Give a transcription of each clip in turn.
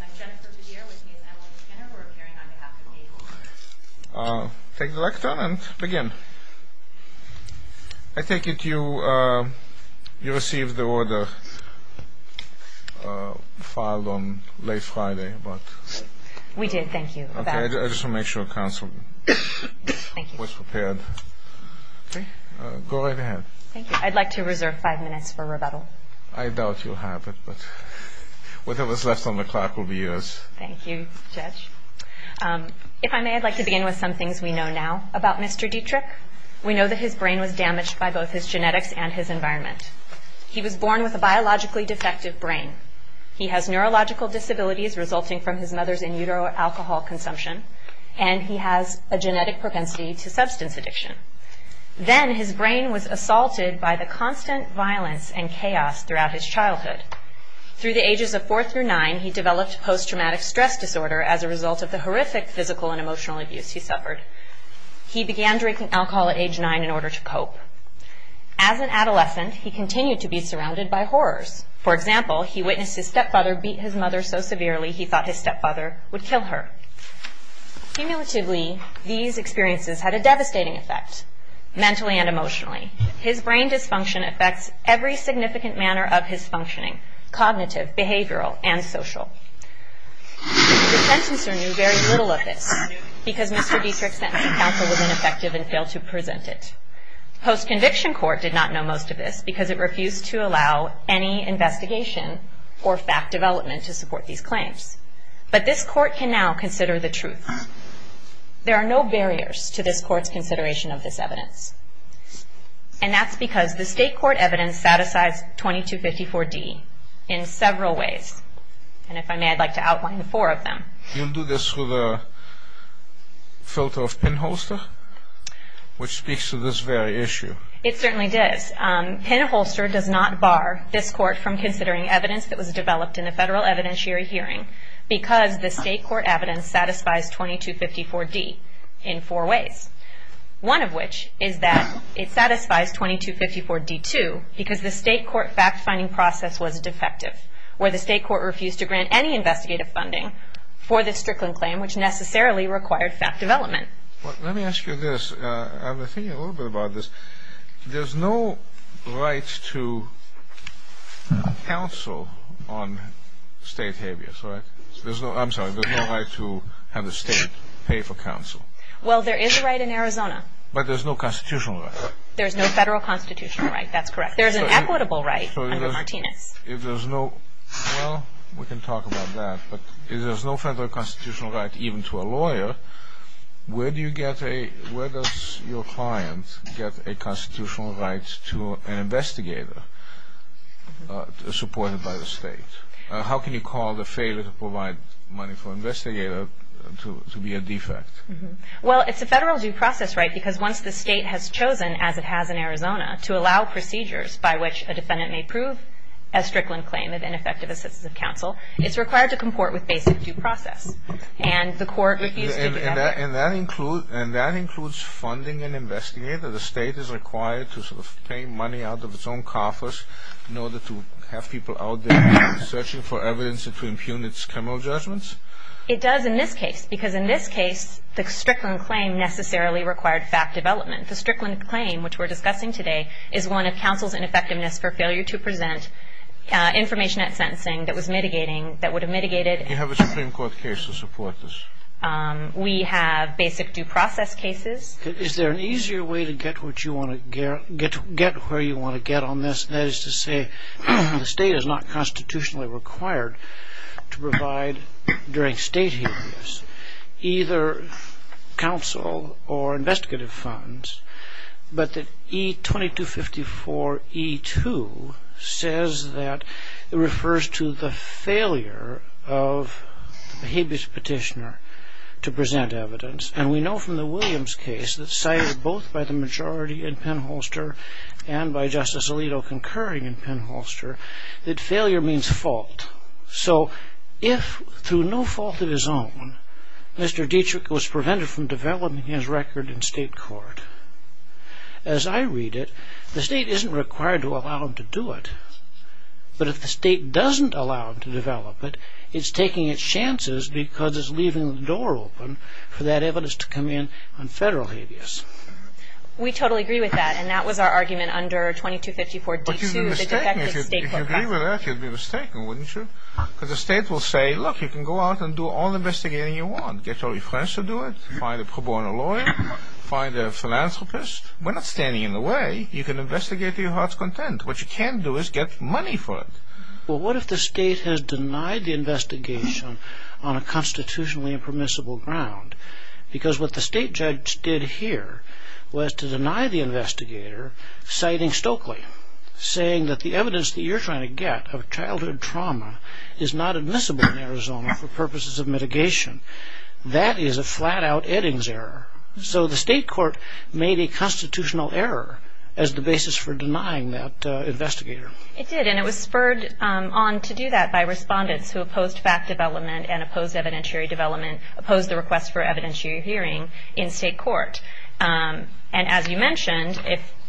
I'm Jennifer Padilla, with me is Emily Skinner. We're appearing on behalf of ABLE. Take the lectern and begin. I take it you received the order filed on late Friday. We did, thank you. I just want to make sure the Council was prepared. Go right ahead. I'd like to reserve five minutes for rebuttal. I doubt you'll have it, but whatever's left on the clock will be yours. Thank you, Judge. If I may, I'd like to begin with some things we know now about Mr. Dietrich. We know that his brain was damaged by both his genetics and his environment. He was born with a biologically defective brain. He has neurological disabilities resulting from his mother's in utero alcohol consumption, and he has a genetic propensity to substance addiction. Then his brain was assaulted by the constant violence and chaos throughout his childhood. Through the ages of four through nine, he developed post-traumatic stress disorder as a result of the horrific physical and emotional abuse he suffered. He began drinking alcohol at age nine in order to cope. As an adolescent, he continued to be surrounded by horrors. For example, he witnessed his stepfather beat his mother so severely he thought his stepfather would kill her. Cumulatively, these experiences had a devastating effect mentally and emotionally. His brain dysfunction affects every significant manner of his functioning, cognitive, behavioral, and social. The sentencer knew very little of this because Mr. Dietrich's sentencing counsel was ineffective and failed to present it. Post-conviction court did not know most of this because it refused to allow any investigation or fact development to support these claims. But this court can now consider the truth. There are no barriers to this court's consideration of this evidence. And that's because the state court evidence satisfies 2254D in several ways. And if I may, I'd like to outline the four of them. You'll do this with a filter of pinholster, which speaks to this very issue. It certainly does. Pinholster does not bar this court from considering evidence that was developed in a federal evidentiary hearing because the state court evidence satisfies 2254D in four ways. One of which is that it satisfies 2254D too because the state court fact-finding process was defective, where the state court refused to grant any investigative funding for this Strickland claim, which necessarily required fact development. Let me ask you this. I've been thinking a little bit about this. There's no right to counsel on state habeas, right? I'm sorry. There's no right to have the state pay for counsel. Well, there is a right in Arizona. But there's no constitutional right. There's no federal constitutional right. That's correct. There's an equitable right under Martinez. Well, we can talk about that. But if there's no federal constitutional right even to a lawyer, where does your client get a constitutional right to an investigator supported by the state? How can you call the failure to provide money for an investigator to be a defect? Well, it's a federal due process right because once the state has chosen, as it has in Arizona, to allow procedures by which a defendant may prove a Strickland claim of ineffective assistance of counsel, it's required to comport with basic due process. And the court refused to do that. And that includes funding an investigator? The state is required to sort of pay money out of its own coffers in order to have people out there searching for evidence to impugn its criminal judgments? It does in this case because in this case the Strickland claim necessarily required fact development. The Strickland claim, which we're discussing today, is one of counsel's ineffectiveness for failure to present information at sentencing that was mitigating, that would have mitigated. Do you have a Supreme Court case to support this? We have basic due process cases. Is there an easier way to get where you want to get on this? That is to say the state is not constitutionally required to provide during state hearings either counsel or investigative funds, but that E2254E2 says that it refers to the failure of the habeas petitioner to present evidence. And we know from the Williams case that cited both by the majority in Penn-Holster and by Justice Alito concurring in Penn-Holster that failure means fault. So if through no fault of his own Mr. Dietrich was prevented from developing his record in state court, as I read it, the state isn't required to allow him to do it. But if the state doesn't allow him to develop it, it's taking its chances because it's leaving the door open for that evidence to come in on federal habeas. We totally agree with that, and that was our argument under E2254D2, If you agree with that, you'd be mistaken, wouldn't you? Because the state will say, look, you can go out and do all the investigating you want, get all your friends to do it, find a pro bono lawyer, find a philanthropist. We're not standing in the way. You can investigate to your heart's content. What you can't do is get money for it. Well, what if the state has denied the investigation on a constitutionally impermissible ground? Because what the state judge did here was to deny the investigator, citing Stokely, saying that the evidence that you're trying to get of childhood trauma is not admissible in Arizona for purposes of mitigation. That is a flat-out Eddings error. So the state court made a constitutional error as the basis for denying that investigator. It did, and it was spurred on to do that by respondents who opposed fact development and opposed evidentiary development, opposed the request for evidentiary hearing in state court. And as you mentioned,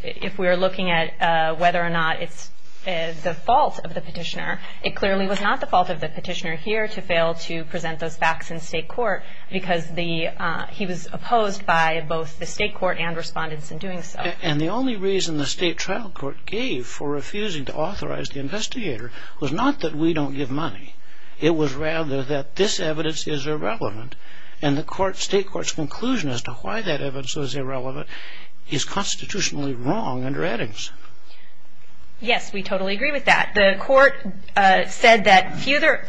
if we're looking at whether or not it's the fault of the petitioner, it clearly was not the fault of the petitioner here to fail to present those facts in state court because he was opposed by both the state court and respondents in doing so. And the only reason the state trial court gave for refusing to authorize the investigator was not that we don't give money. It was rather that this evidence is irrelevant, and the state court's conclusion as to why that evidence was irrelevant is constitutionally wrong under Eddings. Yes, we totally agree with that. The court said that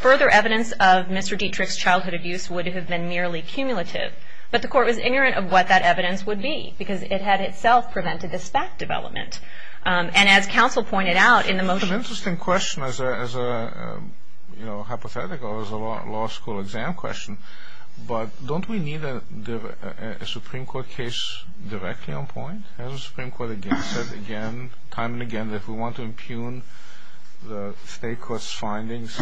further evidence of Mr. Dietrich's childhood abuse would have been merely cumulative, but the court was ignorant of what that evidence would be because it had itself prevented this fact development. And as counsel pointed out in the motion... Again, as a hypothetical, as a law school exam question, but don't we need a Supreme Court case directly on point? Has the Supreme Court again said again, time and again, that if we want to impugn the state court's findings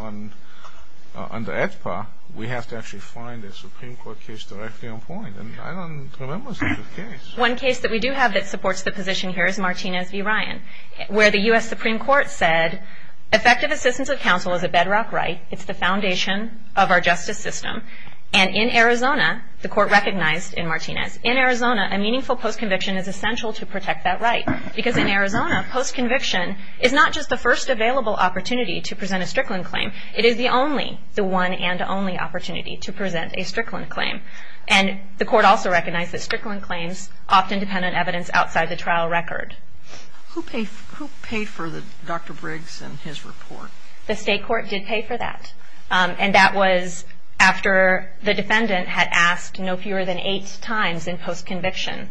under AEDPA, we have to actually find a Supreme Court case directly on point? And I don't remember such a case. One case that we do have that supports the position here is Martinez v. Ryan, where the U.S. Supreme Court said, effective assistance of counsel is a bedrock right. It's the foundation of our justice system. And in Arizona, the court recognized in Martinez, in Arizona, a meaningful postconviction is essential to protect that right because in Arizona, postconviction is not just the first available opportunity to present a Strickland claim. It is the only, the one and only opportunity to present a Strickland claim. And the court also recognized that Strickland claims often depend on evidence outside the trial record. Who paid for Dr. Briggs and his report? The state court did pay for that. And that was after the defendant had asked no fewer than eight times in postconviction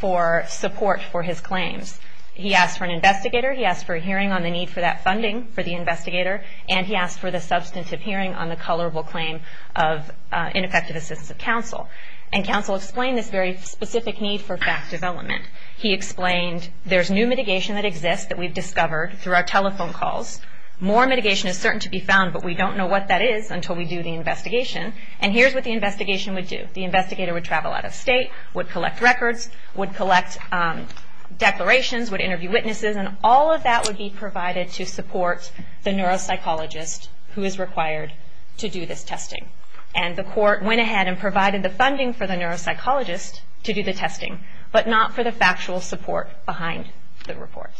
for support for his claims. He asked for an investigator. He asked for a hearing on the need for that funding for the investigator. And he asked for the substantive hearing on the colorable claim of ineffective assistance of counsel. And counsel explained this very specific need for fact development. He explained there's new mitigation that exists that we've discovered through our telephone calls. More mitigation is certain to be found, but we don't know what that is until we do the investigation. And here's what the investigation would do. The investigator would travel out of state, would collect records, would collect declarations, would interview witnesses, and all of that would be provided to support the neuropsychologist who is required to do this testing. And the court went ahead and provided the funding for the neuropsychologist to do the testing, but not for the factual support behind the report.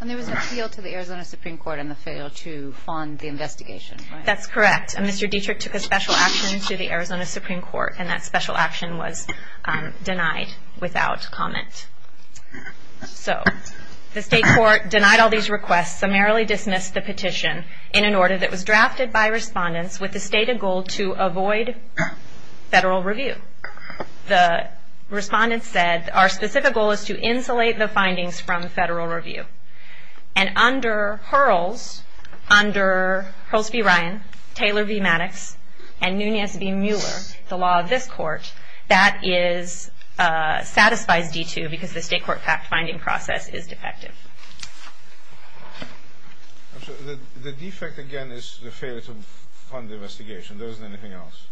And there was an appeal to the Arizona Supreme Court and the fail to fund the investigation, right? That's correct. And Mr. Dietrich took a special action to the Arizona Supreme Court, and that special action was denied without comment. So the state court denied all these requests, summarily dismissed the petition in an order that was drafted by respondents with the stated goal to avoid federal review. The respondents said, our specific goal is to insulate the findings from federal review. And under Hurls v. Ryan, Taylor v. Maddox, and Nunez v. Mueller, the law of this court, that satisfies D2 because the state court fact-finding process is defective. The defect, again, is the failure to fund the investigation. There isn't anything else.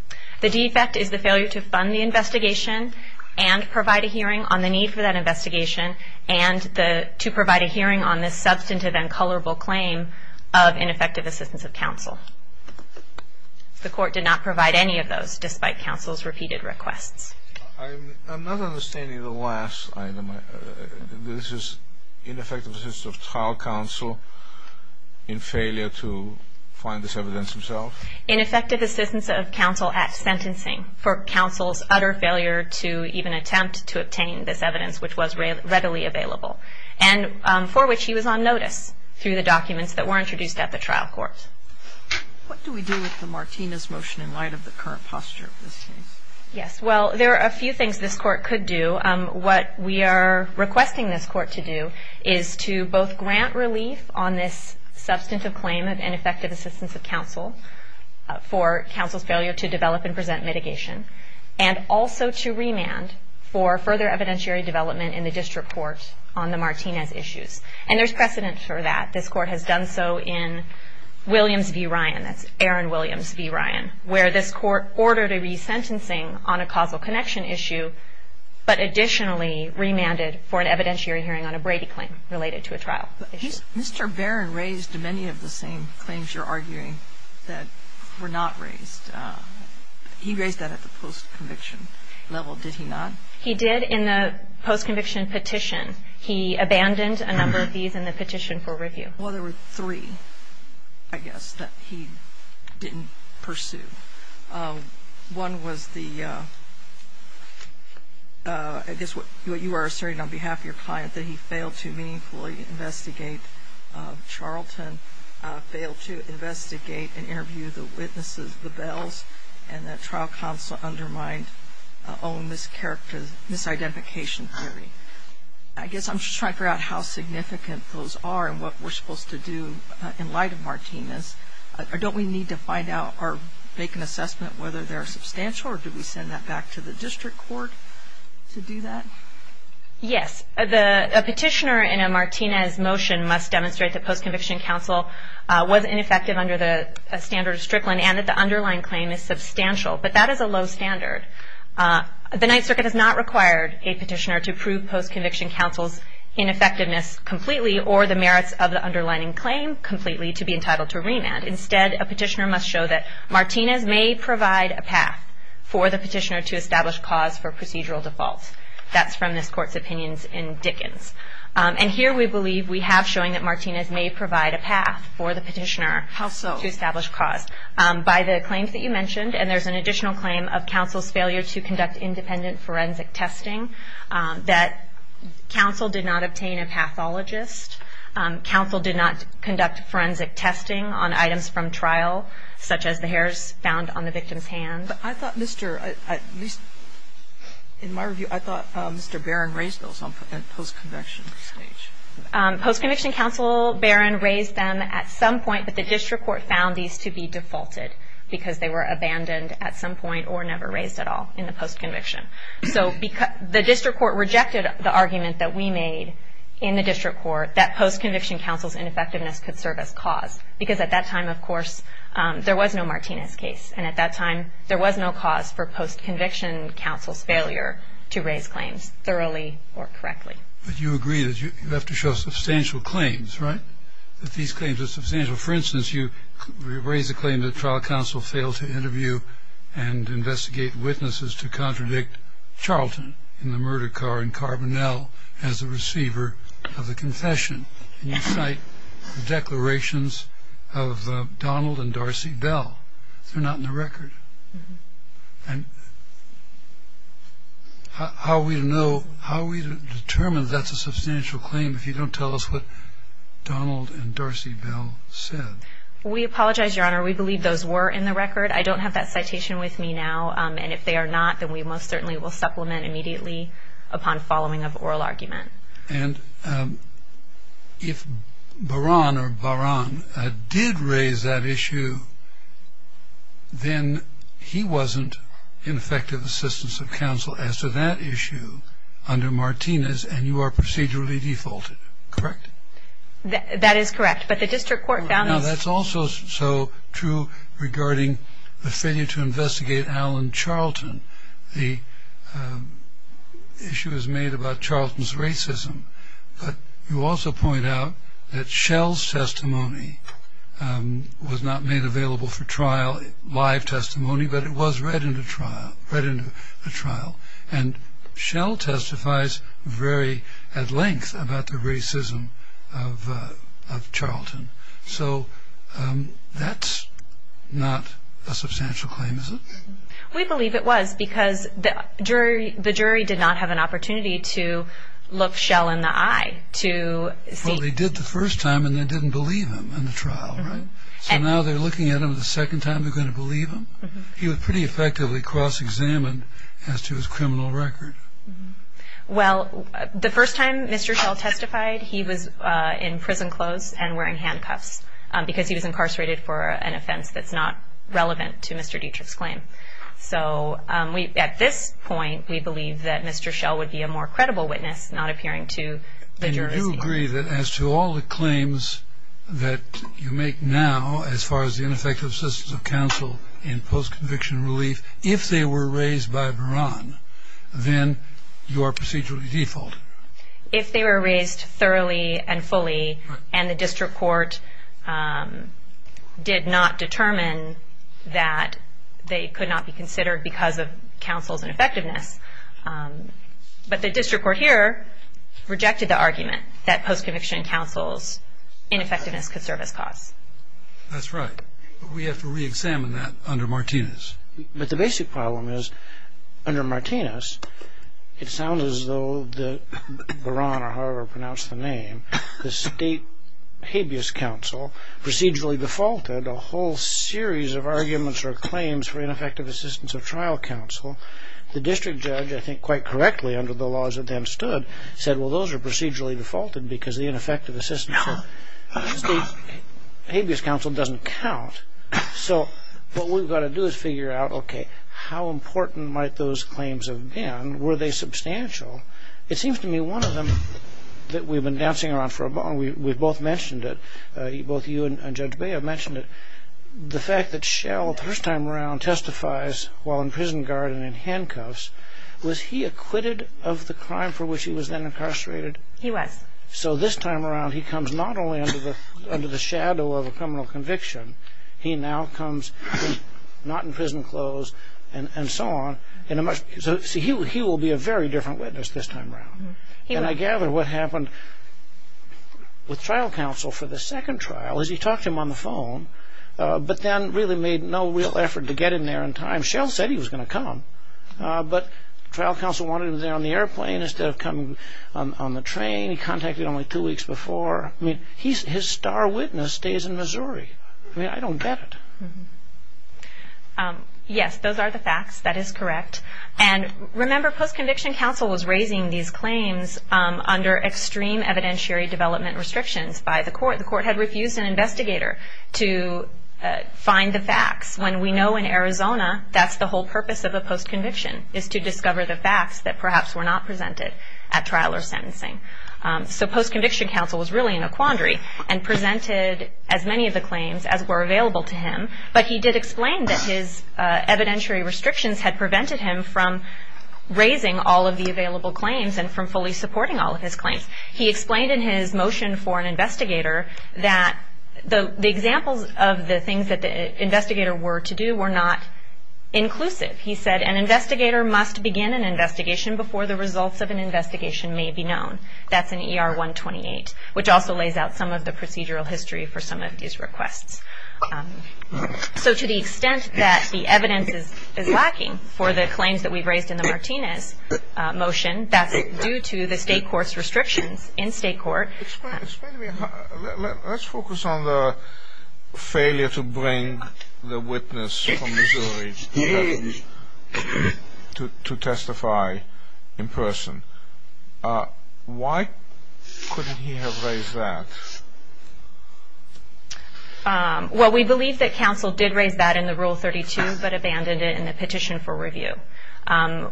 The defect is the failure to fund the investigation and provide a hearing on the need for that investigation and to provide a hearing on this substantive and colorable claim of ineffective assistance of counsel. The court did not provide any of those, despite counsel's repeated requests. I'm not understanding the last item. This is ineffective assistance of trial counsel in failure to find this evidence himself? Ineffective assistance of counsel at sentencing for counsel's utter failure to even attempt to obtain this evidence, which was readily available, and for which he was on notice through the documents that were introduced at the trial court. What do we do with the Martinez motion in light of the current posture of this case? Yes, well, there are a few things this court could do. What we are requesting this court to do is to both grant relief on this substantive claim of ineffective assistance of counsel for counsel's failure to develop and present mitigation, and also to remand for further evidentiary development in the district court on the Martinez issues, and there's precedent for that. This court has done so in Williams v. Ryan. That's Aaron Williams v. Ryan, where this court ordered a resentencing on a causal connection issue, but additionally remanded for an evidentiary hearing on a Brady claim related to a trial issue. Mr. Barron raised many of the same claims you're arguing that were not raised. He raised that at the post-conviction level, did he not? He did in the post-conviction petition. Well, there were three, I guess, that he didn't pursue. One was the, I guess what you are asserting on behalf of your client, that he failed to meaningfully investigate Charlton, failed to investigate and interview the witnesses, the Bells, and that trial counsel undermined own misidentification theory. I guess I'm just trying to figure out how significant those are and what we're supposed to do in light of Martinez. Don't we need to find out or make an assessment whether they're substantial or do we send that back to the district court to do that? Yes. A petitioner in a Martinez motion must demonstrate that post-conviction counsel was ineffective under the standard of Strickland and that the underlying claim is substantial, but that is a low standard. The Ninth Circuit has not required a petitioner to prove post-conviction counsel's ineffectiveness completely or the merits of the underlining claim completely to be entitled to remand. Instead, a petitioner must show that Martinez may provide a path for the petitioner to establish cause for procedural default. That's from this court's opinions in Dickens. And here we believe we have showing that Martinez may provide a path for the petitioner to establish cause. How so? By the claims that you mentioned, and there's an additional claim of counsel's failure to conduct independent forensic testing, that counsel did not obtain a pathologist, counsel did not conduct forensic testing on items from trial, such as the hairs found on the victim's hand. But I thought Mr. at least in my review, I thought Mr. Barron raised those on post-conviction stage. Post-conviction counsel, Barron, raised them at some point, but the district court found these to be defaulted because they were abandoned at some point or never raised at all in the post-conviction. So the district court rejected the argument that we made in the district court that post-conviction counsel's ineffectiveness could serve as cause, because at that time, of course, there was no Martinez case, and at that time there was no cause for post-conviction counsel's failure to raise claims thoroughly or correctly. But you agree that you have to show substantial claims, right, that these claims are substantial. For instance, you raise the claim that trial counsel failed to interview and investigate witnesses to contradict Charlton in the murder car and Carbonell as the receiver of the confession, and you cite the declarations of Donald and Darcy Bell. They're not in the record. And how are we to know, how are we to determine that's a substantial claim if you don't tell us what Donald and Darcy Bell said? We apologize, Your Honor. We believe those were in the record. I don't have that citation with me now, and if they are not, then we most certainly will supplement immediately upon following of oral argument. And if Baran or Baran did raise that issue, then he wasn't in effective assistance of counsel as to that issue under Martinez, and you are procedurally defaulted, correct? That is correct. But the district court found this. Now, that's also so true regarding the failure to investigate Alan Charlton. The issue is made about Charlton's racism. But you also point out that Shell's testimony was not made available for trial, live testimony, but it was read into trial, read into a trial. And Shell testifies very at length about the racism of Charlton. So that's not a substantial claim, is it? We believe it was because the jury did not have an opportunity to look Shell in the eye to see. Well, they did the first time, and they didn't believe him in the trial, right? So now they're looking at him the second time they're going to believe him? He was pretty effectively cross-examined as to his criminal record. Well, the first time Mr. Shell testified, he was in prison clothes and wearing handcuffs because he was incarcerated for an offense that's not relevant to Mr. Dietrich's claim. So at this point, we believe that Mr. Shell would be a more credible witness, not appearing to the jury. And you agree that as to all the claims that you make now, as far as the ineffective assistance of counsel in post-conviction relief, if they were raised by Beran, then you are procedurally default? If they were raised thoroughly and fully, and the district court did not determine that they could not be considered because of counsel's ineffectiveness. But the district court here rejected the argument that post-conviction counsel's ineffectiveness could serve as cause. That's right. But we have to re-examine that under Martinez. But the basic problem is, under Martinez, it sounds as though Beran, or however pronounced the name, the state habeas counsel procedurally defaulted a whole series of arguments or claims for ineffective assistance of trial counsel. The district judge, I think quite correctly under the laws that then stood, said, well, those are procedurally defaulted because the ineffective assistance of state habeas counsel doesn't count. So what we've got to do is figure out, okay, how important might those claims have been? Were they substantial? It seems to me one of them that we've been dancing around for a while, and we've both mentioned it, both you and Judge Bea have mentioned it, the fact that Shell, the first time around, testifies while in prison guard and in handcuffs. Was he acquitted of the crime for which he was then incarcerated? He was. So this time around he comes not only under the shadow of a criminal conviction, he now comes not in prison clothes and so on. So he will be a very different witness this time around. And I gather what happened with trial counsel for the second trial is he talked to him on the phone but then really made no real effort to get in there in time. I mean, Shell said he was going to come, but trial counsel wanted him there on the airplane instead of coming on the train. He contacted him only two weeks before. I mean, his star witness stays in Missouri. I mean, I don't get it. Yes, those are the facts. That is correct. And remember, post-conviction counsel was raising these claims under extreme evidentiary development restrictions by the court. The court had refused an investigator to find the facts. When we know in Arizona that's the whole purpose of a post-conviction is to discover the facts that perhaps were not presented at trial or sentencing. So post-conviction counsel was really in a quandary and presented as many of the claims as were available to him, but he did explain that his evidentiary restrictions had prevented him from raising all of the available claims and from fully supporting all of his claims. He explained in his motion for an investigator that the examples of the things that the investigator were to do were not inclusive. He said an investigator must begin an investigation before the results of an investigation may be known. That's in ER 128, which also lays out some of the procedural history for some of these requests. So to the extent that the evidence is lacking for the claims that we've raised in the Martinez motion, that's due to the state court's restrictions in state court. Let's focus on the failure to bring the witness from Missouri to testify in person. Why couldn't he have raised that? Well, we believe that counsel did raise that in the Rule 32 but abandoned it in the petition for review,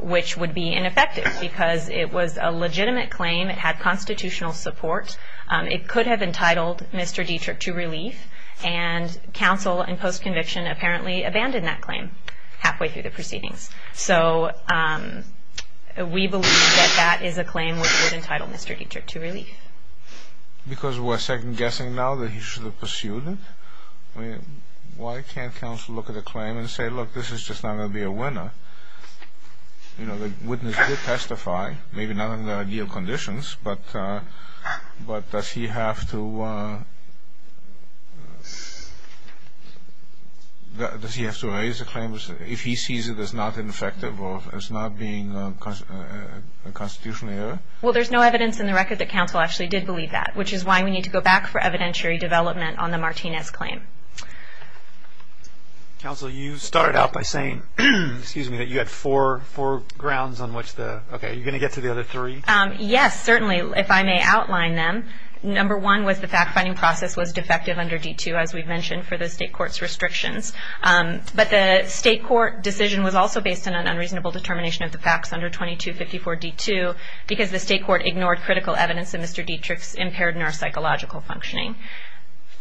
which would be ineffective because it was a legitimate claim. It had constitutional support. It could have entitled Mr. Dietrich to relief, and counsel in post-conviction apparently abandoned that claim halfway through the proceedings. So we believe that that is a claim which would entitle Mr. Dietrich to relief. Because we're second-guessing now that he should have pursued it? Why can't counsel look at a claim and say, look, this is just not going to be a winner? You know, the witness did testify, maybe not in the ideal conditions, but does he have to raise the claim if he sees it as not ineffective or as not being a constitutional error? Well, there's no evidence in the record that counsel actually did believe that, which is why we need to go back for evidentiary development on the Martinez claim. Counsel, you started out by saying that you had four grounds on which the – okay, are you going to get to the other three? Yes, certainly, if I may outline them. Number one was the fact-finding process was defective under D-2, as we've mentioned, for the state court's restrictions. But the state court decision was also based on an unreasonable determination of the facts under 2254 D-2 because the state court ignored critical evidence in Mr. Dietrich's impaired neuropsychological functioning.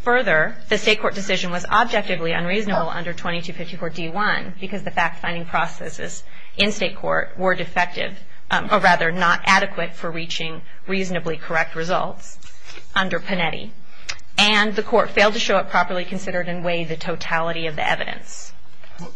Further, the state court decision was objectively unreasonable under 2254 D-1 because the fact-finding processes in state court were defective, or rather not adequate for reaching reasonably correct results under Panetti. And the court failed to show it properly considered and weigh the totality of the evidence.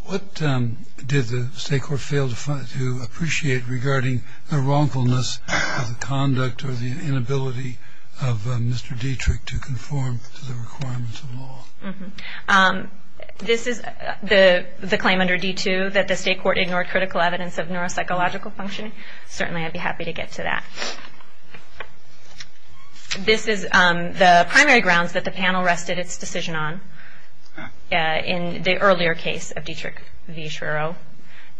What did the state court fail to appreciate regarding the wrongfulness of the conduct or the inability of Mr. Dietrich to conform to the requirements of law? This is the claim under D-2 that the state court ignored critical evidence of neuropsychological functioning. Certainly I'd be happy to get to that. This is the primary grounds that the panel rested its decision on in the earlier case of Dietrich v. Schirro.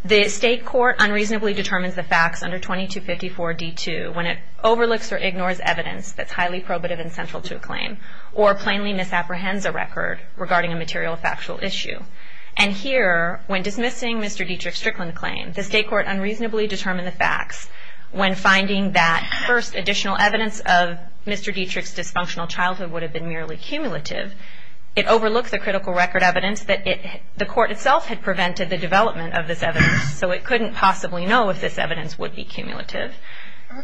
The state court unreasonably determines the facts under 2254 D-2 when it overlooks or ignores evidence that's highly probative and central to a claim or plainly misapprehends a record regarding a material or factual issue. And here, when dismissing Mr. Dietrich's Strickland claim, the state court unreasonably determined the facts when finding that, first, additional evidence of Mr. Dietrich's dysfunctional childhood would have been merely cumulative. It overlooked the critical record evidence that the court itself had prevented the development of this evidence, so it couldn't possibly know if this evidence would be cumulative.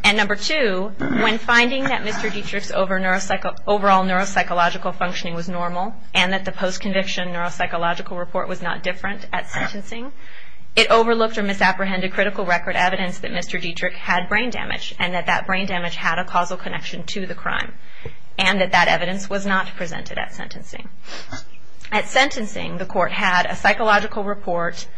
And number two, when finding that Mr. Dietrich's overall neuropsychological functioning was normal and that the post-conviction neuropsychological report was not different at sentencing, it overlooked or misapprehended critical record evidence that Mr. Dietrich had brain damage and that that brain damage had a causal connection to the crime and that that evidence was not presented at sentencing. At sentencing, the court had a psychological report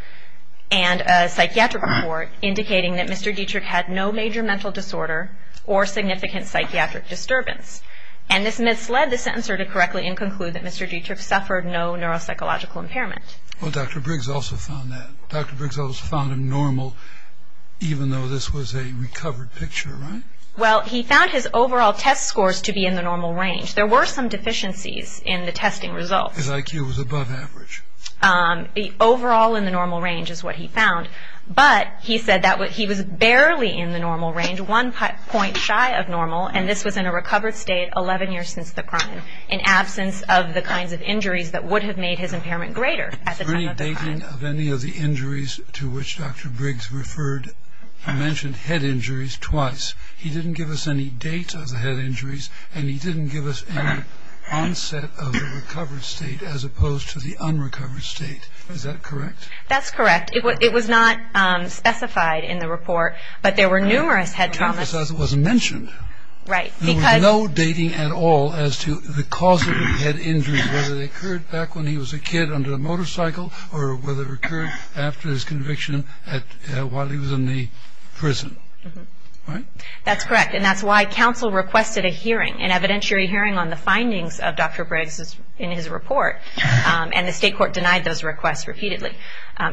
and a psychiatric report indicating that Mr. Dietrich had no major mental disorder or significant psychiatric disturbance. And this misled the sentencer to correctly conclude that Mr. Dietrich suffered no neuropsychological impairment. Well, Dr. Briggs also found that. Dr. Briggs also found him normal even though this was a recovered picture, right? Well, he found his overall test scores to be in the normal range. There were some deficiencies in the testing results. His IQ was above average. Overall in the normal range is what he found, but he said that he was barely in the normal range, one point shy of normal, and this was in a recovered state 11 years since the crime in absence of the kinds of injuries that would have made his impairment greater at the time of the crime. So any dating of any of the injuries to which Dr. Briggs referred mentioned head injuries twice. He didn't give us any date of the head injuries, and he didn't give us any onset of the recovered state as opposed to the unrecovered state. Is that correct? That's correct. It was not specified in the report, but there were numerous head traumas. It was mentioned. Right. There was no dating at all as to the cause of the head injuries, whether they occurred back when he was a kid under a motorcycle or whether it occurred after his conviction while he was in the prison, right? That's correct, and that's why counsel requested a hearing, an evidentiary hearing on the findings of Dr. Briggs in his report, and the state court denied those requests repeatedly.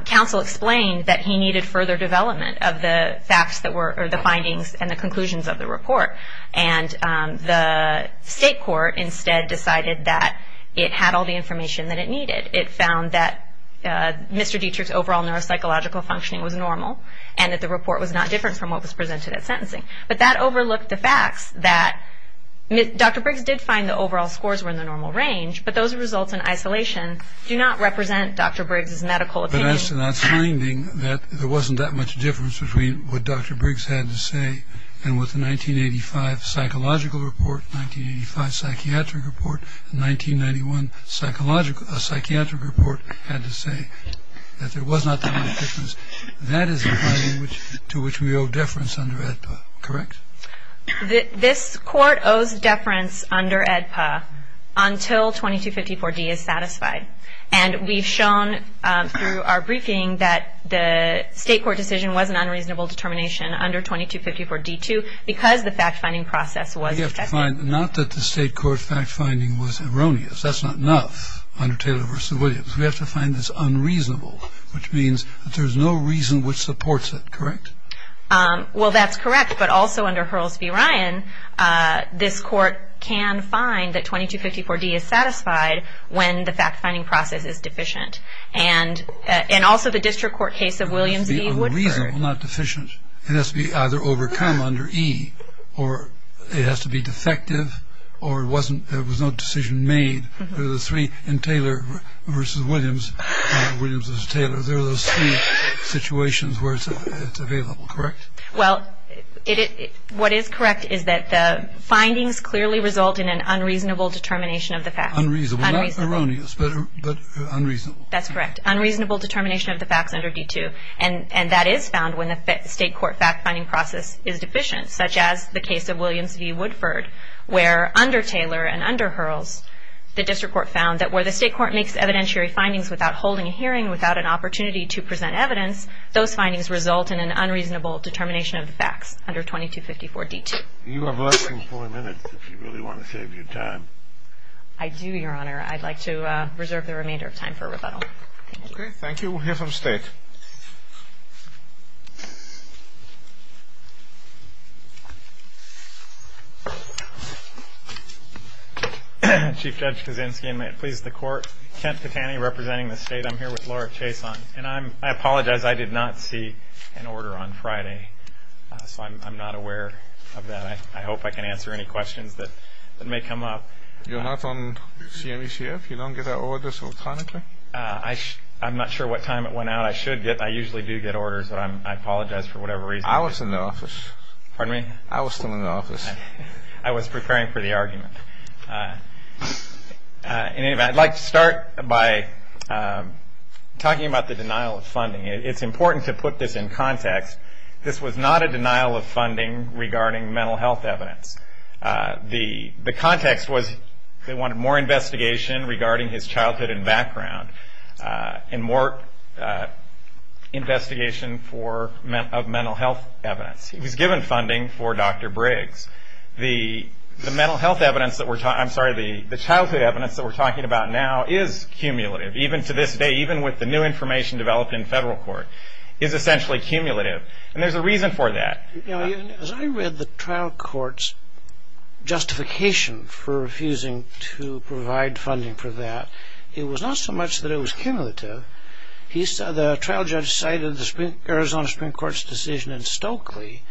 Counsel explained that he needed further development of the facts that were or the findings and the conclusions of the report, and the state court instead decided that it had all the information that it needed. It found that Mr. Dietrich's overall neuropsychological functioning was normal and that the report was not different from what was presented at sentencing, but that overlooked the facts that Dr. Briggs did find the overall scores were in the normal range, but those results in isolation do not represent Dr. Briggs' medical opinion. There wasn't that much difference between what Dr. Briggs had to say and what the 1985 psychological report, 1985 psychiatric report, and 1991 psychiatric report had to say, that there was not that much difference. That is the finding to which we owe deference under AEDPA, correct? This court owes deference under AEDPA until 2254D is satisfied, and we've shown through our briefing that the state court decision was an unreasonable determination under 2254D too because the fact-finding process was effective. Not that the state court fact-finding was erroneous. That's not enough under Taylor v. Williams. We have to find this unreasonable, which means that there's no reason which supports it, correct? Well, that's correct, but also under Hurls v. Ryan, this court can find that 2254D is satisfied when the fact-finding process is deficient, and also the district court case of Williams v. Woodford. It has to be unreasonable, not deficient. It has to be either overcome under E, or it has to be defective, or it was no decision made. There are the three in Taylor v. Williams, Williams v. Taylor. There are those three situations where it's available, correct? Well, what is correct is that the findings clearly result in an unreasonable determination of the fact. Unreasonable, not erroneous, but unreasonable. That's correct, unreasonable determination of the facts under D2, and that is found when the state court fact-finding process is deficient, such as the case of Williams v. Woodford, where under Taylor and under Hurls, the district court found that where the state court makes evidentiary findings without holding a hearing, without an opportunity to present evidence, those findings result in an unreasonable determination of the facts under 2254D2. You have less than 40 minutes, if you really want to save your time. I do, Your Honor. I'd like to reserve the remainder of time for rebuttal. Okay, thank you. We'll hear from State. Chief Judge Kaczynski, and may it please the Court, Kent Patani, representing the State. I'm here with Laura Chason, and I apologize, I did not see an order on Friday, so I'm not aware of that. I hope I can answer any questions that may come up. You're not on CME-CF? You don't get our orders electronically? I'm not sure what time it went out. I usually do get orders, but I apologize for whatever reason. I was in the office. Pardon me? I was still in the office. I was preparing for the argument. In any event, I'd like to start by talking about the denial of funding. It's important to put this in context. This was not a denial of funding regarding mental health evidence. The context was they wanted more investigation regarding his childhood and background, and more investigation of mental health evidence. He was given funding for Dr. Briggs. The childhood evidence that we're talking about now is cumulative, even to this day, even with the new information developed in federal court. It's essentially cumulative, and there's a reason for that. As I read the trial court's justification for refusing to provide funding for that, it was not so much that it was cumulative. The trial judge cited the Arizona Supreme Court's decision in Stokely,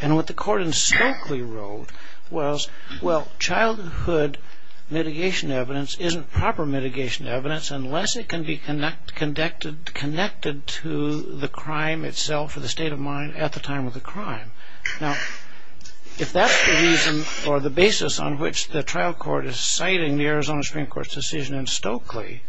and what the court in Stokely wrote was, well, childhood mitigation evidence isn't proper mitigation evidence unless it can be connected to the crime itself or the state of mind at the time of the crime. Now, if that's the reason or the basis on which the trial court is citing the Arizona Supreme Court's decision in Stokely,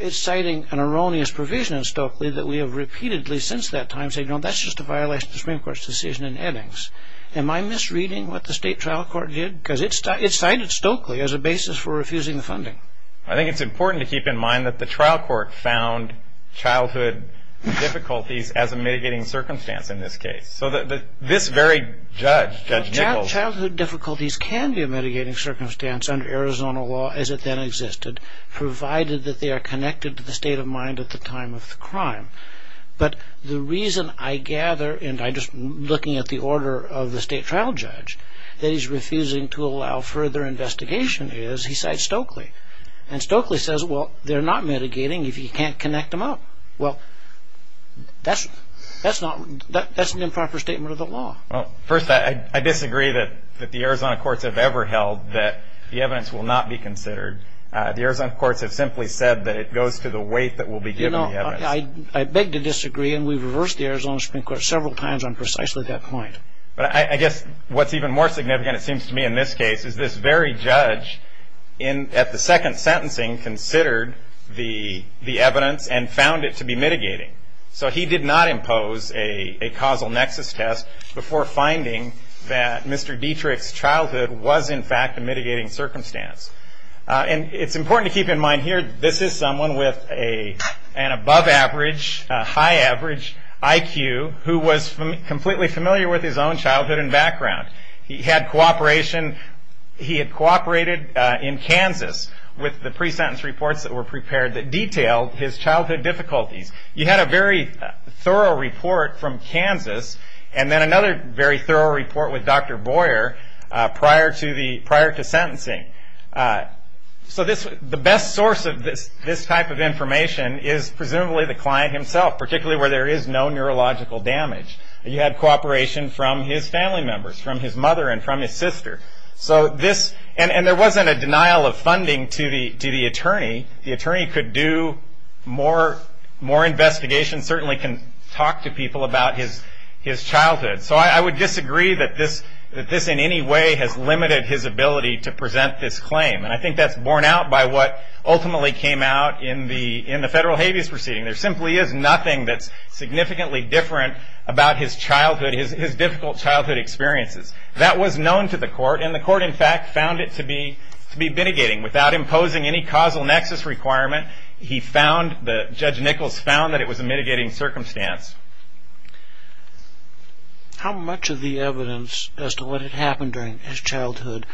it's citing an erroneous provision in Stokely that we have repeatedly since that time said, you know, that's just a violation of the Supreme Court's decision in Eddings. Am I misreading what the state trial court did? Because it cited Stokely as a basis for refusing the funding. I think it's important to keep in mind that the trial court found childhood difficulties as a mitigating circumstance in this case. So this very judge, Judge Nichols... Childhood difficulties can be a mitigating circumstance under Arizona law as it then existed, provided that they are connected to the state of mind at the time of the crime. But the reason I gather, and I'm just looking at the order of the state trial judge, that he's refusing to allow further investigation is he cites Stokely. And Stokely says, well, they're not mitigating if you can't connect them up. Well, that's an improper statement of the law. First, I disagree that the Arizona courts have ever held that the evidence will not be considered. The Arizona courts have simply said that it goes to the weight that will be given the evidence. I beg to disagree, and we've reversed the Arizona Supreme Court several times on precisely that point. But I guess what's even more significant, it seems to me, in this case, is this very judge at the second sentencing considered the evidence and found it to be mitigating. So he did not impose a causal nexus test before finding that Mr. Dietrich's childhood was in fact a mitigating circumstance. And it's important to keep in mind here, this is someone with an above average, high average IQ, who was completely familiar with his own childhood and background. He had cooperated in Kansas with the pre-sentence reports that were prepared that detailed his childhood difficulties. You had a very thorough report from Kansas, and then another very thorough report with Dr. Boyer prior to sentencing. So the best source of this type of information is presumably the client himself, particularly where there is no neurological damage. You had cooperation from his family members, from his mother and from his sister. And there wasn't a denial of funding to the attorney. The attorney could do more investigation, certainly can talk to people about his childhood. So I would disagree that this in any way has limited his ability to present this claim. And I think that's borne out by what ultimately came out in the federal habeas proceeding. There simply is nothing that's significantly different about his difficult childhood experiences. That was known to the court, and the court in fact found it to be mitigating. Without imposing any causal nexus requirement, Judge Nichols found that it was a mitigating circumstance. How much of the evidence as to what had happened during his childhood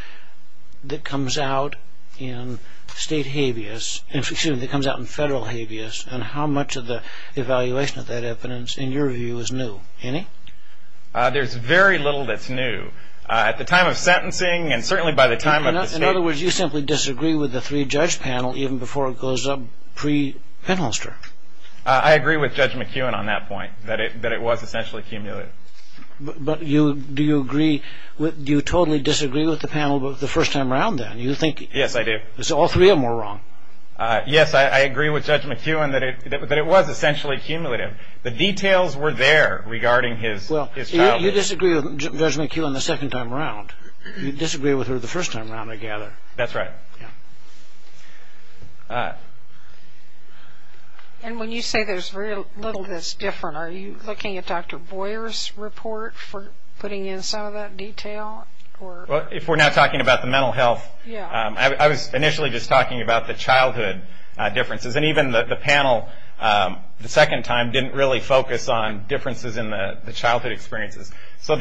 that comes out in federal habeas, and how much of the evaluation of that evidence in your view is new? Any? There's very little that's new. At the time of sentencing and certainly by the time of the state. In other words, you simply disagree with the three-judge panel even before it goes up pre-Penholster. I agree with Judge McEwen on that point, that it was essentially cumulative. But do you agree, do you totally disagree with the panel the first time around then? Yes, I do. You think all three of them were wrong? Yes, I agree with Judge McEwen that it was essentially cumulative. The details were there regarding his childhood. You disagree with Judge McEwen the second time around. You disagree with her the first time around, I gather. That's right. And when you say there's very little that's different, are you looking at Dr. Boyer's report for putting in some of that detail? If we're not talking about the mental health, I was initially just talking about the childhood differences. And even the panel the second time didn't really focus on differences in the childhood experiences. So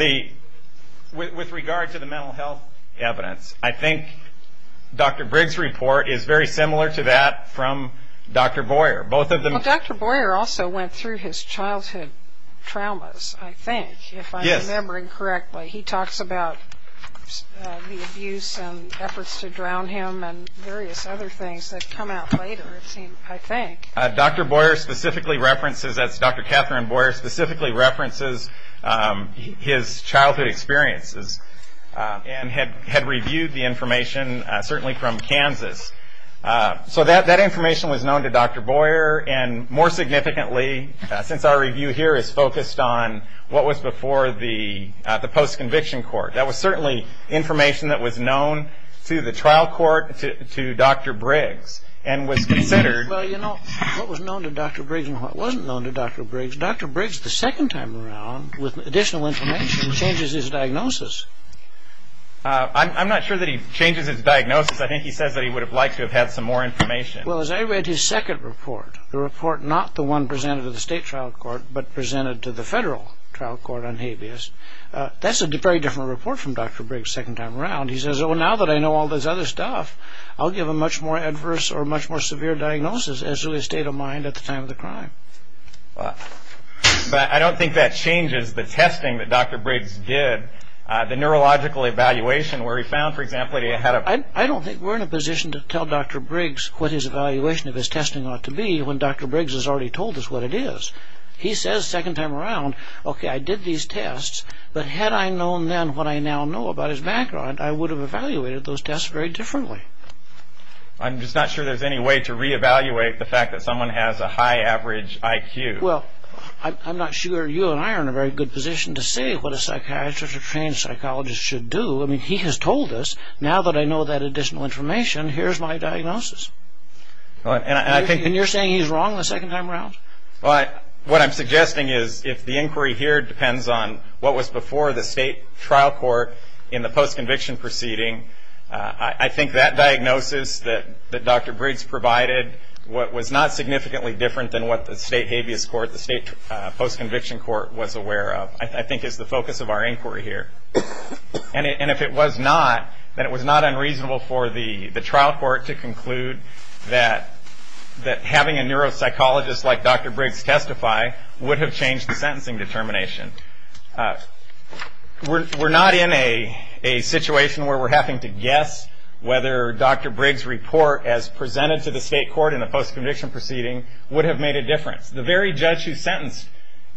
with regard to the mental health evidence, I think Dr. Briggs' report is very similar to that from Dr. Boyer. Dr. Boyer also went through his childhood traumas, I think, if I'm remembering correctly. He talks about the abuse and efforts to drown him and various other things that come out later, I think. Dr. Boyer specifically references, as Dr. Catherine Boyer specifically references, his childhood experiences and had reviewed the information, certainly from Kansas. So that information was known to Dr. Boyer, and more significantly, since our review here is focused on what was before the post-conviction court, that was certainly information that was known to the trial court, to Dr. Briggs, and was considered. Well, you know, what was known to Dr. Briggs and what wasn't known to Dr. Briggs, Dr. Briggs the second time around, with additional information, changes his diagnosis. I'm not sure that he changes his diagnosis. I think he says that he would have liked to have had some more information. Well, as I read his second report, the report not the one presented to the state trial court, but presented to the federal trial court on habeas, that's a very different report from Dr. Briggs' second time around. He says, well, now that I know all this other stuff, I'll give a much more adverse or much more severe diagnosis as to his state of mind at the time of the crime. But I don't think that changes the testing that Dr. Briggs did, the neurological evaluation, where he found, for example, that he had a... I don't think we're in a position to tell Dr. Briggs what his evaluation of his testing ought to be when Dr. Briggs has already told us what it is. He says second time around, okay, I did these tests, but had I known then what I now know about his background, I would have evaluated those tests very differently. I'm just not sure there's any way to reevaluate the fact that someone has a high average IQ. Well, I'm not sure you and I are in a very good position to say what a psychiatrist or trained psychologist should do. I mean, he has told us, now that I know that additional information, here's my diagnosis. And you're saying he's wrong the second time around? Well, what I'm suggesting is if the inquiry here depends on what was before the state trial court in the postconviction proceeding, I think that diagnosis that Dr. Briggs provided was not significantly different than what the state habeas court, the state postconviction court, was aware of, I think is the focus of our inquiry here. And if it was not, then it was not unreasonable for the trial court to conclude that having a neuropsychologist like Dr. Briggs testify would have changed the sentencing determination. We're not in a situation where we're having to guess whether Dr. Briggs' report as presented to the state court in the postconviction proceeding would have made a difference. The very judge who sentenced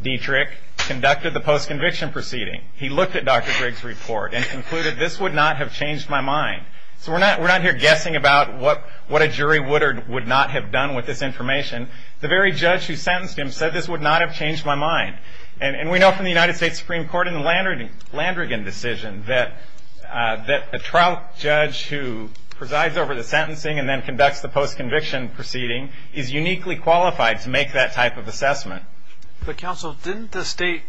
Dietrich conducted the postconviction proceeding. He looked at Dr. Briggs' report and concluded this would not have changed my mind. So we're not here guessing about what a jury would or would not have done with this information. The very judge who sentenced him said this would not have changed my mind. And we know from the United States Supreme Court in the Landrigan decision that a trial judge who presides over the sentencing and then conducts the postconviction proceeding is uniquely qualified to make that type of assessment. But counsel, didn't the state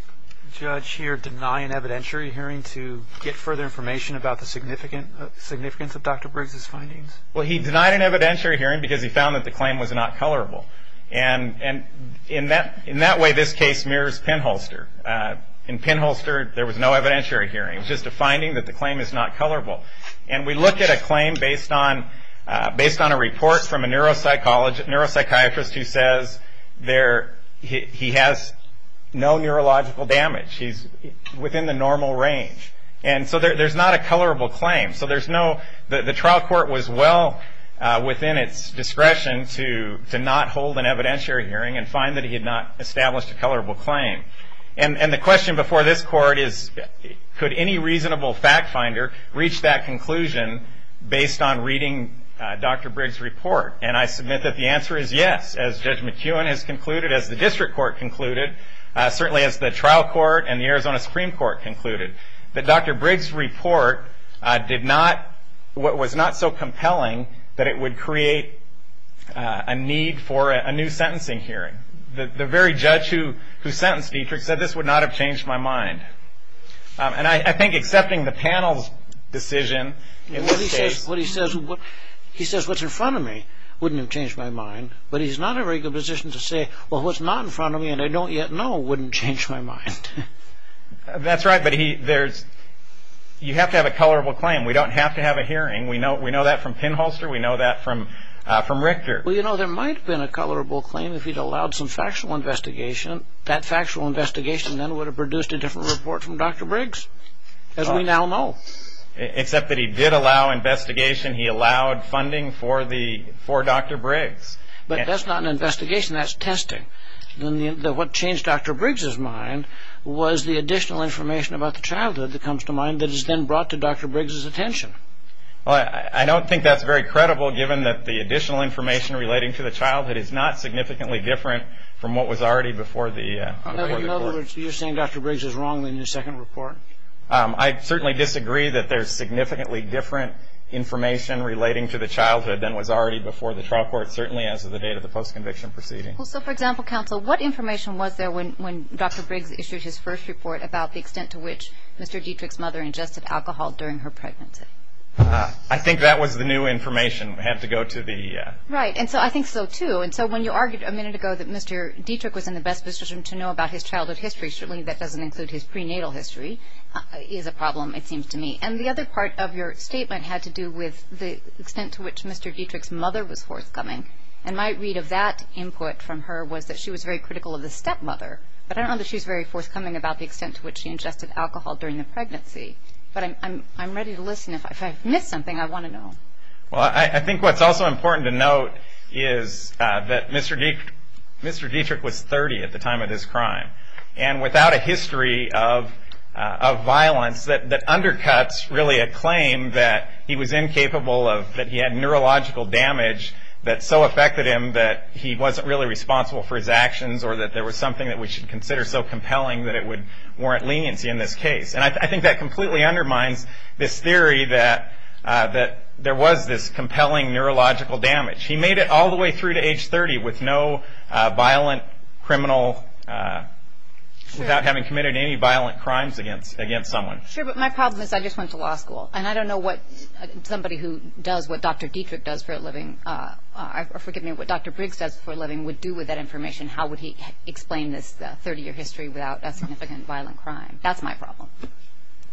judge here deny an evidentiary hearing to get further information about the significance of Dr. Briggs' findings? Well, he denied an evidentiary hearing because he found that the claim was not colorable. And in that way, this case mirrors pinholster. In pinholster, there was no evidentiary hearing. It was just a finding that the claim is not colorable. And we look at a claim based on a report from a neuropsychiatrist who says he has no neurological damage. He's within the normal range. And so there's not a colorable claim. The trial court was well within its discretion to not hold an evidentiary hearing and find that he had not established a colorable claim. And the question before this court is, could any reasonable fact finder reach that conclusion based on reading Dr. Briggs' report? And I submit that the answer is yes, as Judge McEwen has concluded, as the district court concluded, certainly as the trial court and the Arizona Supreme Court concluded. But Dr. Briggs' report did not, was not so compelling that it would create a need for a new sentencing hearing. The very judge who sentenced Dietrich said, this would not have changed my mind. And I think accepting the panel's decision in this case. He says, what's in front of me wouldn't have changed my mind. But he's not in a very good position to say, well, what's not in front of me and I don't yet know wouldn't change my mind. That's right. But you have to have a colorable claim. We don't have to have a hearing. We know that from pinholster. We know that from Richter. Well, you know, there might have been a colorable claim if he'd allowed some factual investigation. That factual investigation then would have produced a different report from Dr. Briggs, as we now know. Except that he did allow investigation. He allowed funding for Dr. Briggs. But that's not an investigation. That's testing. What changed Dr. Briggs' mind was the additional information about the childhood that comes to mind that is then brought to Dr. Briggs' attention. Well, I don't think that's very credible, given that the additional information relating to the childhood is not significantly different from what was already before the court. In other words, you're saying Dr. Briggs was wrong in his second report? I certainly disagree that there's significantly different information relating to the childhood than was already before the trial court, certainly as of the date of the post-conviction proceeding. Well, so, for example, counsel, what information was there when Dr. Briggs issued his first report about the extent to which Mr. Dietrich's mother ingested alcohol during her pregnancy? I think that was the new information. We have to go to the... Right. And so I think so, too. And so when you argued a minute ago that Mr. Dietrich was in the best position to know about his childhood history, certainly that doesn't include his prenatal history, is a problem, it seems to me. And the other part of your statement had to do with the extent to which Mr. Dietrich's mother was forthcoming. And my read of that input from her was that she was very critical of the stepmother. But I don't know that she was very forthcoming about the extent to which she ingested alcohol during the pregnancy. But I'm ready to listen. If I've missed something, I want to know. Well, I think what's also important to note is that Mr. Dietrich was 30 at the time of this crime. And without a history of violence that undercuts really a claim that he was incapable of, that he had neurological damage that so affected him that he wasn't really responsible for his actions or that there was something that we should consider so compelling that it would warrant leniency in this case. And I think that completely undermines this theory that there was this compelling neurological damage. He made it all the way through to age 30 with no violent criminal, without having committed any violent crimes against someone. Sure, but my problem is I just went to law school. And I don't know what somebody who does what Dr. Dietrich does for a living, or forgive me, what Dr. Briggs does for a living would do with that information. How would he explain this 30-year history without a significant violent crime? That's my problem.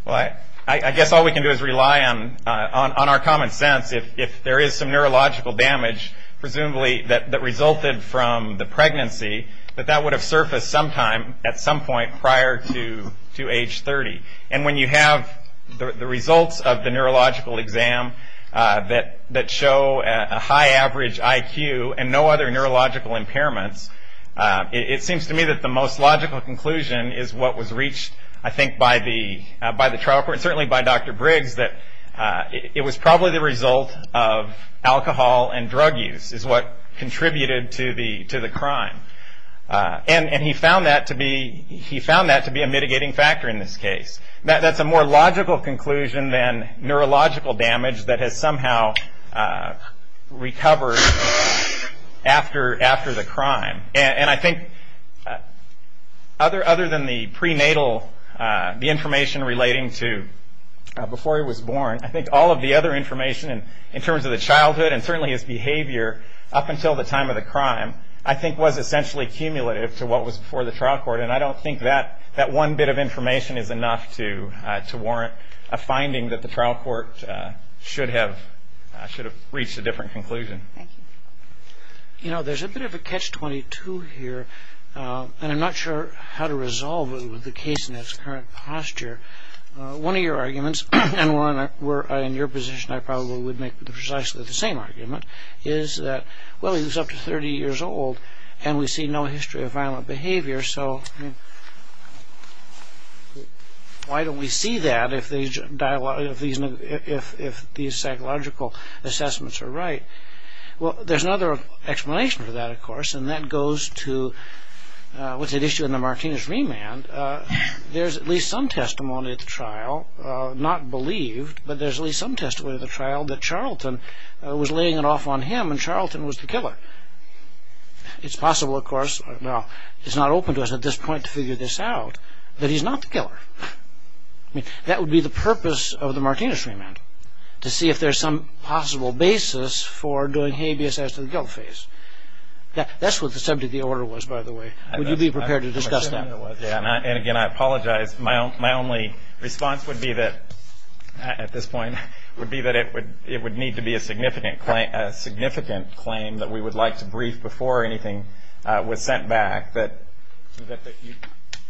Well, I guess all we can do is rely on our common sense. If there is some neurological damage, presumably that resulted from the pregnancy, that that would have surfaced sometime at some point prior to age 30. And when you have the results of the neurological exam that show a high average IQ and no other neurological impairments, it seems to me that the most logical conclusion is what was reached, I think, by the trial court, and certainly by Dr. Briggs, that it was probably the result of alcohol and drug use is what contributed to the crime. And he found that to be a mitigating factor in this case. That's a more logical conclusion than neurological damage that has somehow recovered after the crime. And I think other than the prenatal, the information relating to before he was born, I think all of the other information in terms of the childhood and certainly his behavior up until the time of the crime, I think was essentially cumulative to what was before the trial court. And I don't think that one bit of information is enough to warrant a finding that the trial court should have reached a different conclusion. Thank you. You know, there's a bit of a catch-22 here, and I'm not sure how to resolve it with the case in its current posture. One of your arguments, and one where in your position I probably would make precisely the same argument, is that, well, he was up to 30 years old, and we see no history of violent behavior, so why don't we see that if these psychological assessments are right? Well, there's another explanation for that, of course, and that goes to what's at issue in the Martinez remand. There's at least some testimony at the trial, not believed, but there's at least some testimony at the trial that Charlton was laying it off on him and Charlton was the killer. It's possible, of course, well, it's not open to us at this point to figure this out, that he's not the killer. That would be the purpose of the Martinez remand, to see if there's some possible basis for doing habeas as to the guilt phase. That's what the subject of the order was, by the way. Would you be prepared to discuss that? Yes, I would. And again, I apologize. My only response would be that, at this point, would be that it would need to be a significant claim that we would like to brief before anything was sent back, that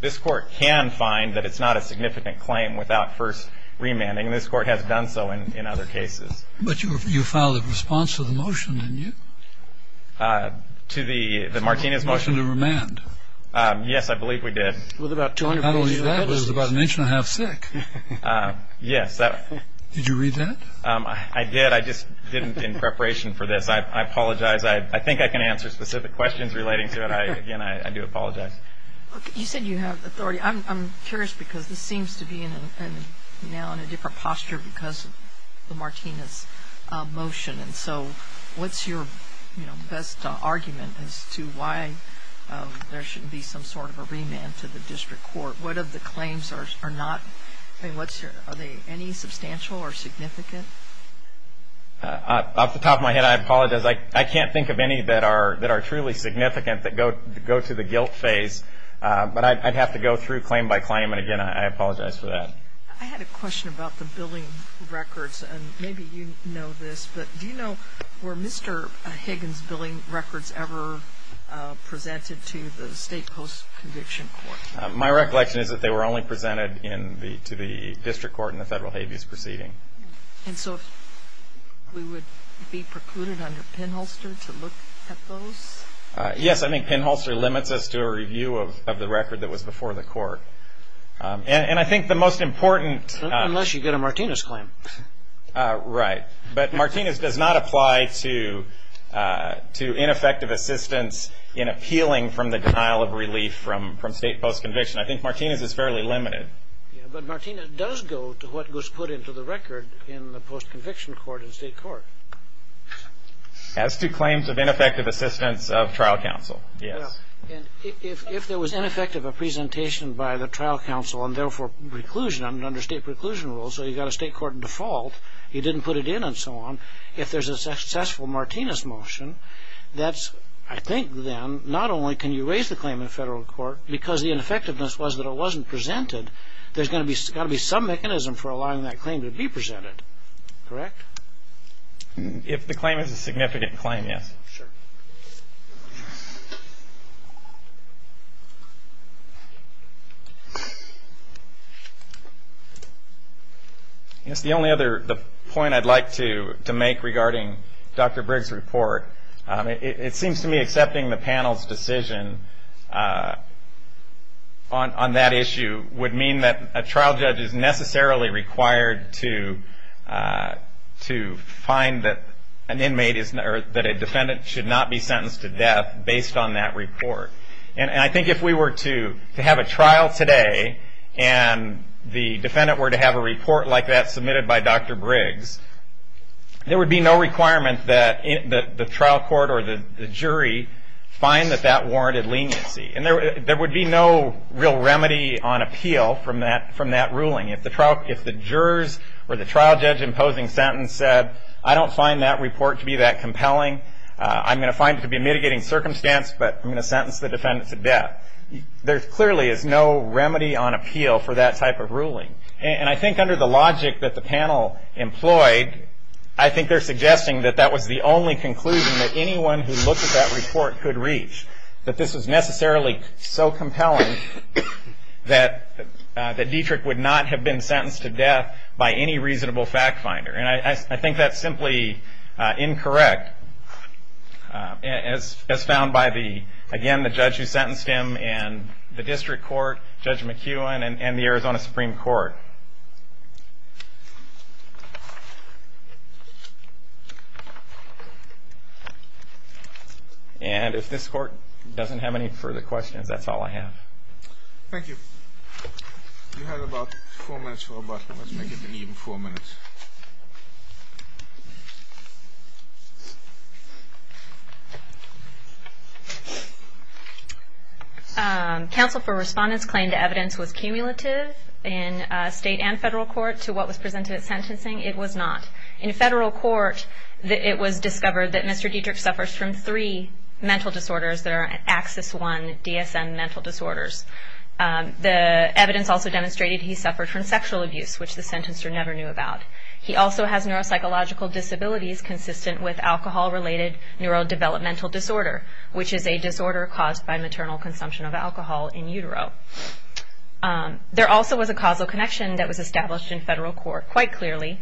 this Court can find that it's not a significant claim without first remanding, and this Court has done so in other cases. But you filed a response to the motion, didn't you? To the Martinez motion? The motion to remand. Yes, I believe we did. How old is that? It was about an inch and a half sick. Yes. Did you read that? I did. I just didn't in preparation for this. I apologize. I think I can answer specific questions relating to it. Again, I do apologize. You said you have authority. I'm curious because this seems to be now in a different posture because of the Martinez motion. And so what's your best argument as to why there shouldn't be some sort of a remand to the District Court? What if the claims are not? Are they any substantial or significant? Off the top of my head, I apologize. I can't think of any that are truly significant that go to the guilt phase, but I'd have to go through claim by claim. And again, I apologize for that. I had a question about the billing records, and maybe you know this, but do you know were Mr. Higgins' billing records ever presented to the state post-conviction court? My recollection is that they were only presented to the District Court in the federal habeas proceeding. And so we would be precluded under pinholster to look at those? Yes, I think pinholster limits us to a review of the record that was before the court. And I think the most important- Unless you get a Martinez claim. Right. But Martinez does not apply to ineffective assistance in appealing from the denial of relief from state post-conviction. I think Martinez is fairly limited. But Martinez does go to what was put into the record in the post-conviction court in state court. As to claims of ineffective assistance of trial counsel, yes. If there was ineffective presentation by the trial counsel, and therefore preclusion under state preclusion rules, so you got a state court default, you didn't put it in and so on, if there's a successful Martinez motion, that's, I think then, not only can you raise the claim in federal court, because the ineffectiveness was that it wasn't presented, there's got to be some mechanism for allowing that claim to be presented. Correct? If the claim is a significant claim, yes. Sure. I guess the only other point I'd like to make regarding Dr. Briggs' report, it seems to me accepting the panel's decision on that issue would mean that a trial judge is necessarily required to find that an inmate is, or that a defendant should not be sentenced to death based on that report. And I think if we were to have a trial today, and the defendant were to have a report like that submitted by Dr. Briggs, there would be no requirement that the trial court or the jury find that that warranted leniency. And there would be no real remedy on appeal from that ruling. If the jurors or the trial judge imposing sentence said, I don't find that report to be that compelling, I'm going to find it to be a mitigating circumstance, but I'm going to sentence the defendant to death. There clearly is no remedy on appeal for that type of ruling. And I think under the logic that the panel employed, I think they're suggesting that that was the only conclusion that anyone who looked at that report could reach, that this was necessarily so compelling that Dietrich would not have been sentenced to death by any reasonable fact finder. And I think that's simply incorrect, as found by, again, the judge who sentenced him, and the district court, Judge McEwen, and the Arizona Supreme Court. And if this court doesn't have any further questions, that's all I have. Thank you. You have about four minutes for a button. Let's make it an even four minutes. Counsel for Respondents claimed the evidence was cumulative in state and federal court to what was presented at sentencing. It was not. In federal court, it was discovered that Mr. Dietrich suffers from three mental disorders that are AXIS-1 DSM mental disorders. The evidence also demonstrated he suffered from sexual abuse, which the sentencer never knew about. He also has neuropsychological disabilities consistent with alcohol-related neurodevelopmental disorder, which is a disorder caused by maternal consumption of alcohol in utero. There also was a causal connection that was established in federal court. Quite clearly,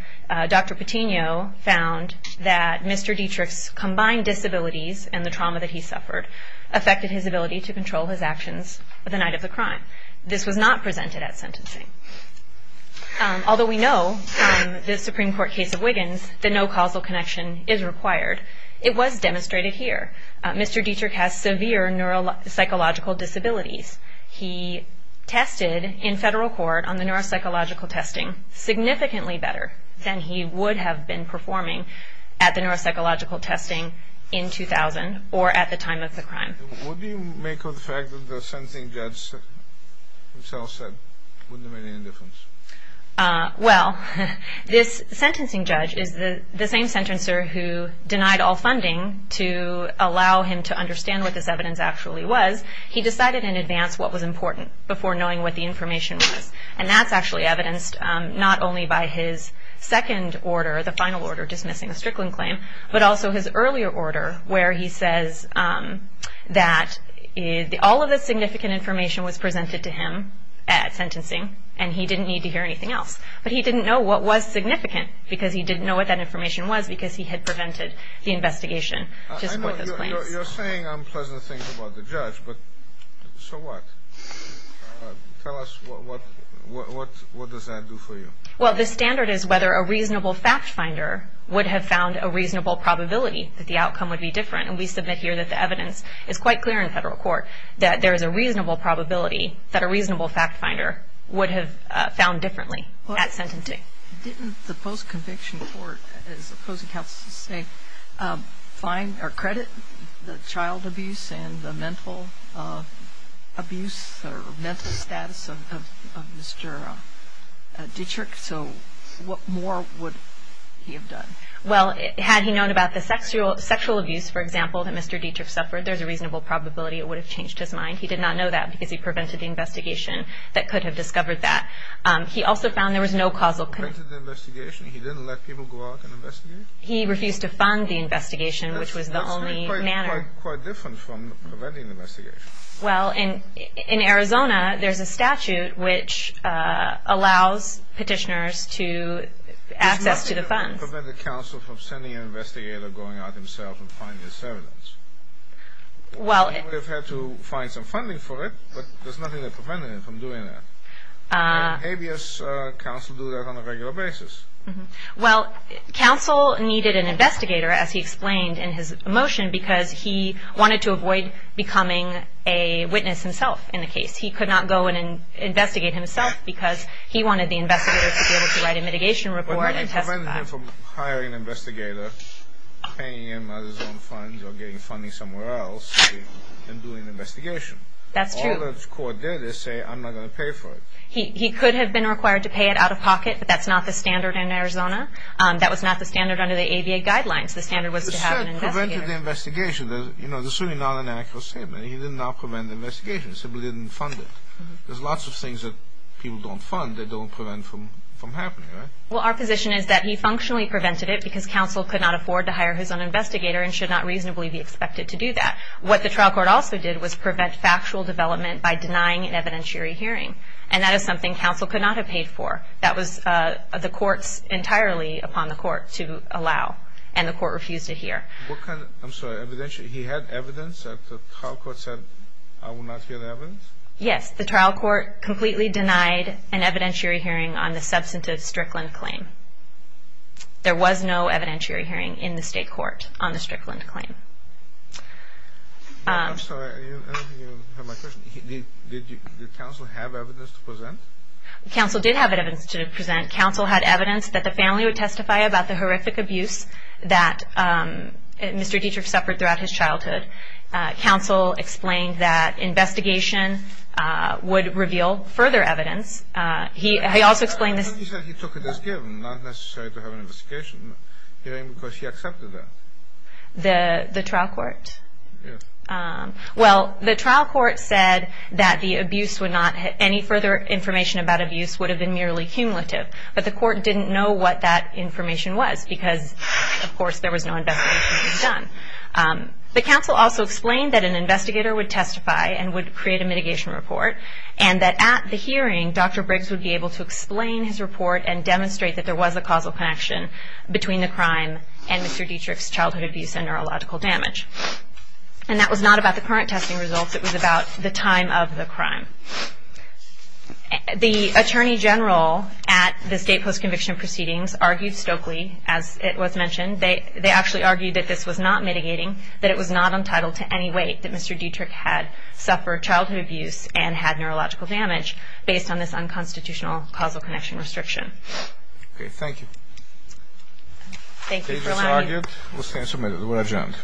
Dr. Patino found that Mr. Dietrich's combined disabilities and the trauma that he suffered affected his ability to control his actions the night of the crime. This was not presented at sentencing. Although we know from the Supreme Court case of Wiggins that no causal connection is required, it was demonstrated here. Mr. Dietrich has severe neuropsychological disabilities. He tested in federal court on the neuropsychological testing significantly better than he would have been performing at the neuropsychological testing in 2000 or at the time of the crime. What do you make of the fact that the sentencing judge himself said it wouldn't have made any difference? Well, this sentencing judge is the same sentencer who denied all funding to allow him to understand what this evidence actually was. He decided in advance what was important before knowing what the information was. And that's actually evidenced not only by his second order, the final order dismissing the Strickland claim, but also his earlier order where he says that all of the significant information was presented to him at sentencing and he didn't need to hear anything else. But he didn't know what was significant because he didn't know what that information was because he had prevented the investigation to support those claims. I know you're saying unpleasant things about the judge, but so what? Tell us, what does that do for you? Well, the standard is whether a reasonable fact finder would have found a reasonable probability that the outcome would be different. And we submit here that the evidence is quite clear in federal court that there is a reasonable probability that a reasonable fact finder would have found differently at sentencing. Didn't the post-conviction court, as opposing counsels say, find or credit the child abuse and the mental abuse or mental status of Mr. Dietrich? So what more would he have done? Well, had he known about the sexual abuse, for example, that Mr. Dietrich suffered, there's a reasonable probability it would have changed his mind. He did not know that because he prevented the investigation that could have discovered that. He also found there was no causal connection. Prevented the investigation? He didn't let people go out and investigate? He refused to fund the investigation, which was the only manner. That's quite different from preventing the investigation. Well, in Arizona, there's a statute which allows petitioners to access to the funds. It does not prevent the counsel from sending an investigator going out himself and finding this evidence. Well, they've had to find some funding for it, but there's nothing that prevented him from doing that. And habeas counsel do that on a regular basis. Well, counsel needed an investigator, as he explained in his motion, because he wanted to avoid becoming a witness himself in the case. He could not go and investigate himself because he wanted the investigator to be able to write a mitigation report and testify. Well, I prevented him from hiring an investigator, paying him out of his own funds or getting funding somewhere else and doing an investigation. That's true. All the court did is say, I'm not going to pay for it. He could have been required to pay it out of pocket, but that's not the standard in Arizona. That was not the standard under the ABA guidelines. The standard was to have an investigator. You said prevented the investigation. There's certainly not an accurate statement. He did not prevent the investigation. He simply didn't fund it. There's lots of things that people don't fund that don't prevent from happening, right? Well, our position is that he functionally prevented it because counsel could not afford to hire his own investigator and should not reasonably be expected to do that. What the trial court also did was prevent factual development by denying an evidentiary hearing. And that is something counsel could not have paid for. That was the court's entirely upon the court to allow, and the court refused to hear. I'm sorry. He had evidence that the trial court said, I will not hear the evidence? Yes. The trial court completely denied an evidentiary hearing on the substantive Strickland claim. There was no evidentiary hearing in the state court on the Strickland claim. I'm sorry. I don't think you have my question. Did counsel have evidence to present? Counsel did have evidence to present. Counsel had evidence that the family would testify about the horrific abuse that Mr. Dietrich suffered throughout his childhood. Counsel explained that investigation would reveal further evidence. He also explained this. He said he took it as given, not necessary to have an investigation hearing, because he accepted that. The trial court? Yes. Well, the trial court said that the abuse would not have any further information about abuse, would have been merely cumulative. But the court didn't know what that information was, because, of course, there was no investigation to be done. The counsel also explained that an investigator would testify and would create a mitigation report, and that at the hearing Dr. Briggs would be able to explain his report and demonstrate that there was a causal connection between the crime and Mr. Dietrich's childhood abuse and neurological damage. And that was not about the current testing results. It was about the time of the crime. The attorney general at the state post-conviction proceedings argued stokely, as it was mentioned, they actually argued that this was not mitigating, that it was not untitled to any weight that Mr. Dietrich had suffered childhood abuse and had neurological damage based on this unconstitutional causal connection restriction. Okay. Thank you. Thank you for coming. Thank you. We'll stand for a minute. We'll adjourn.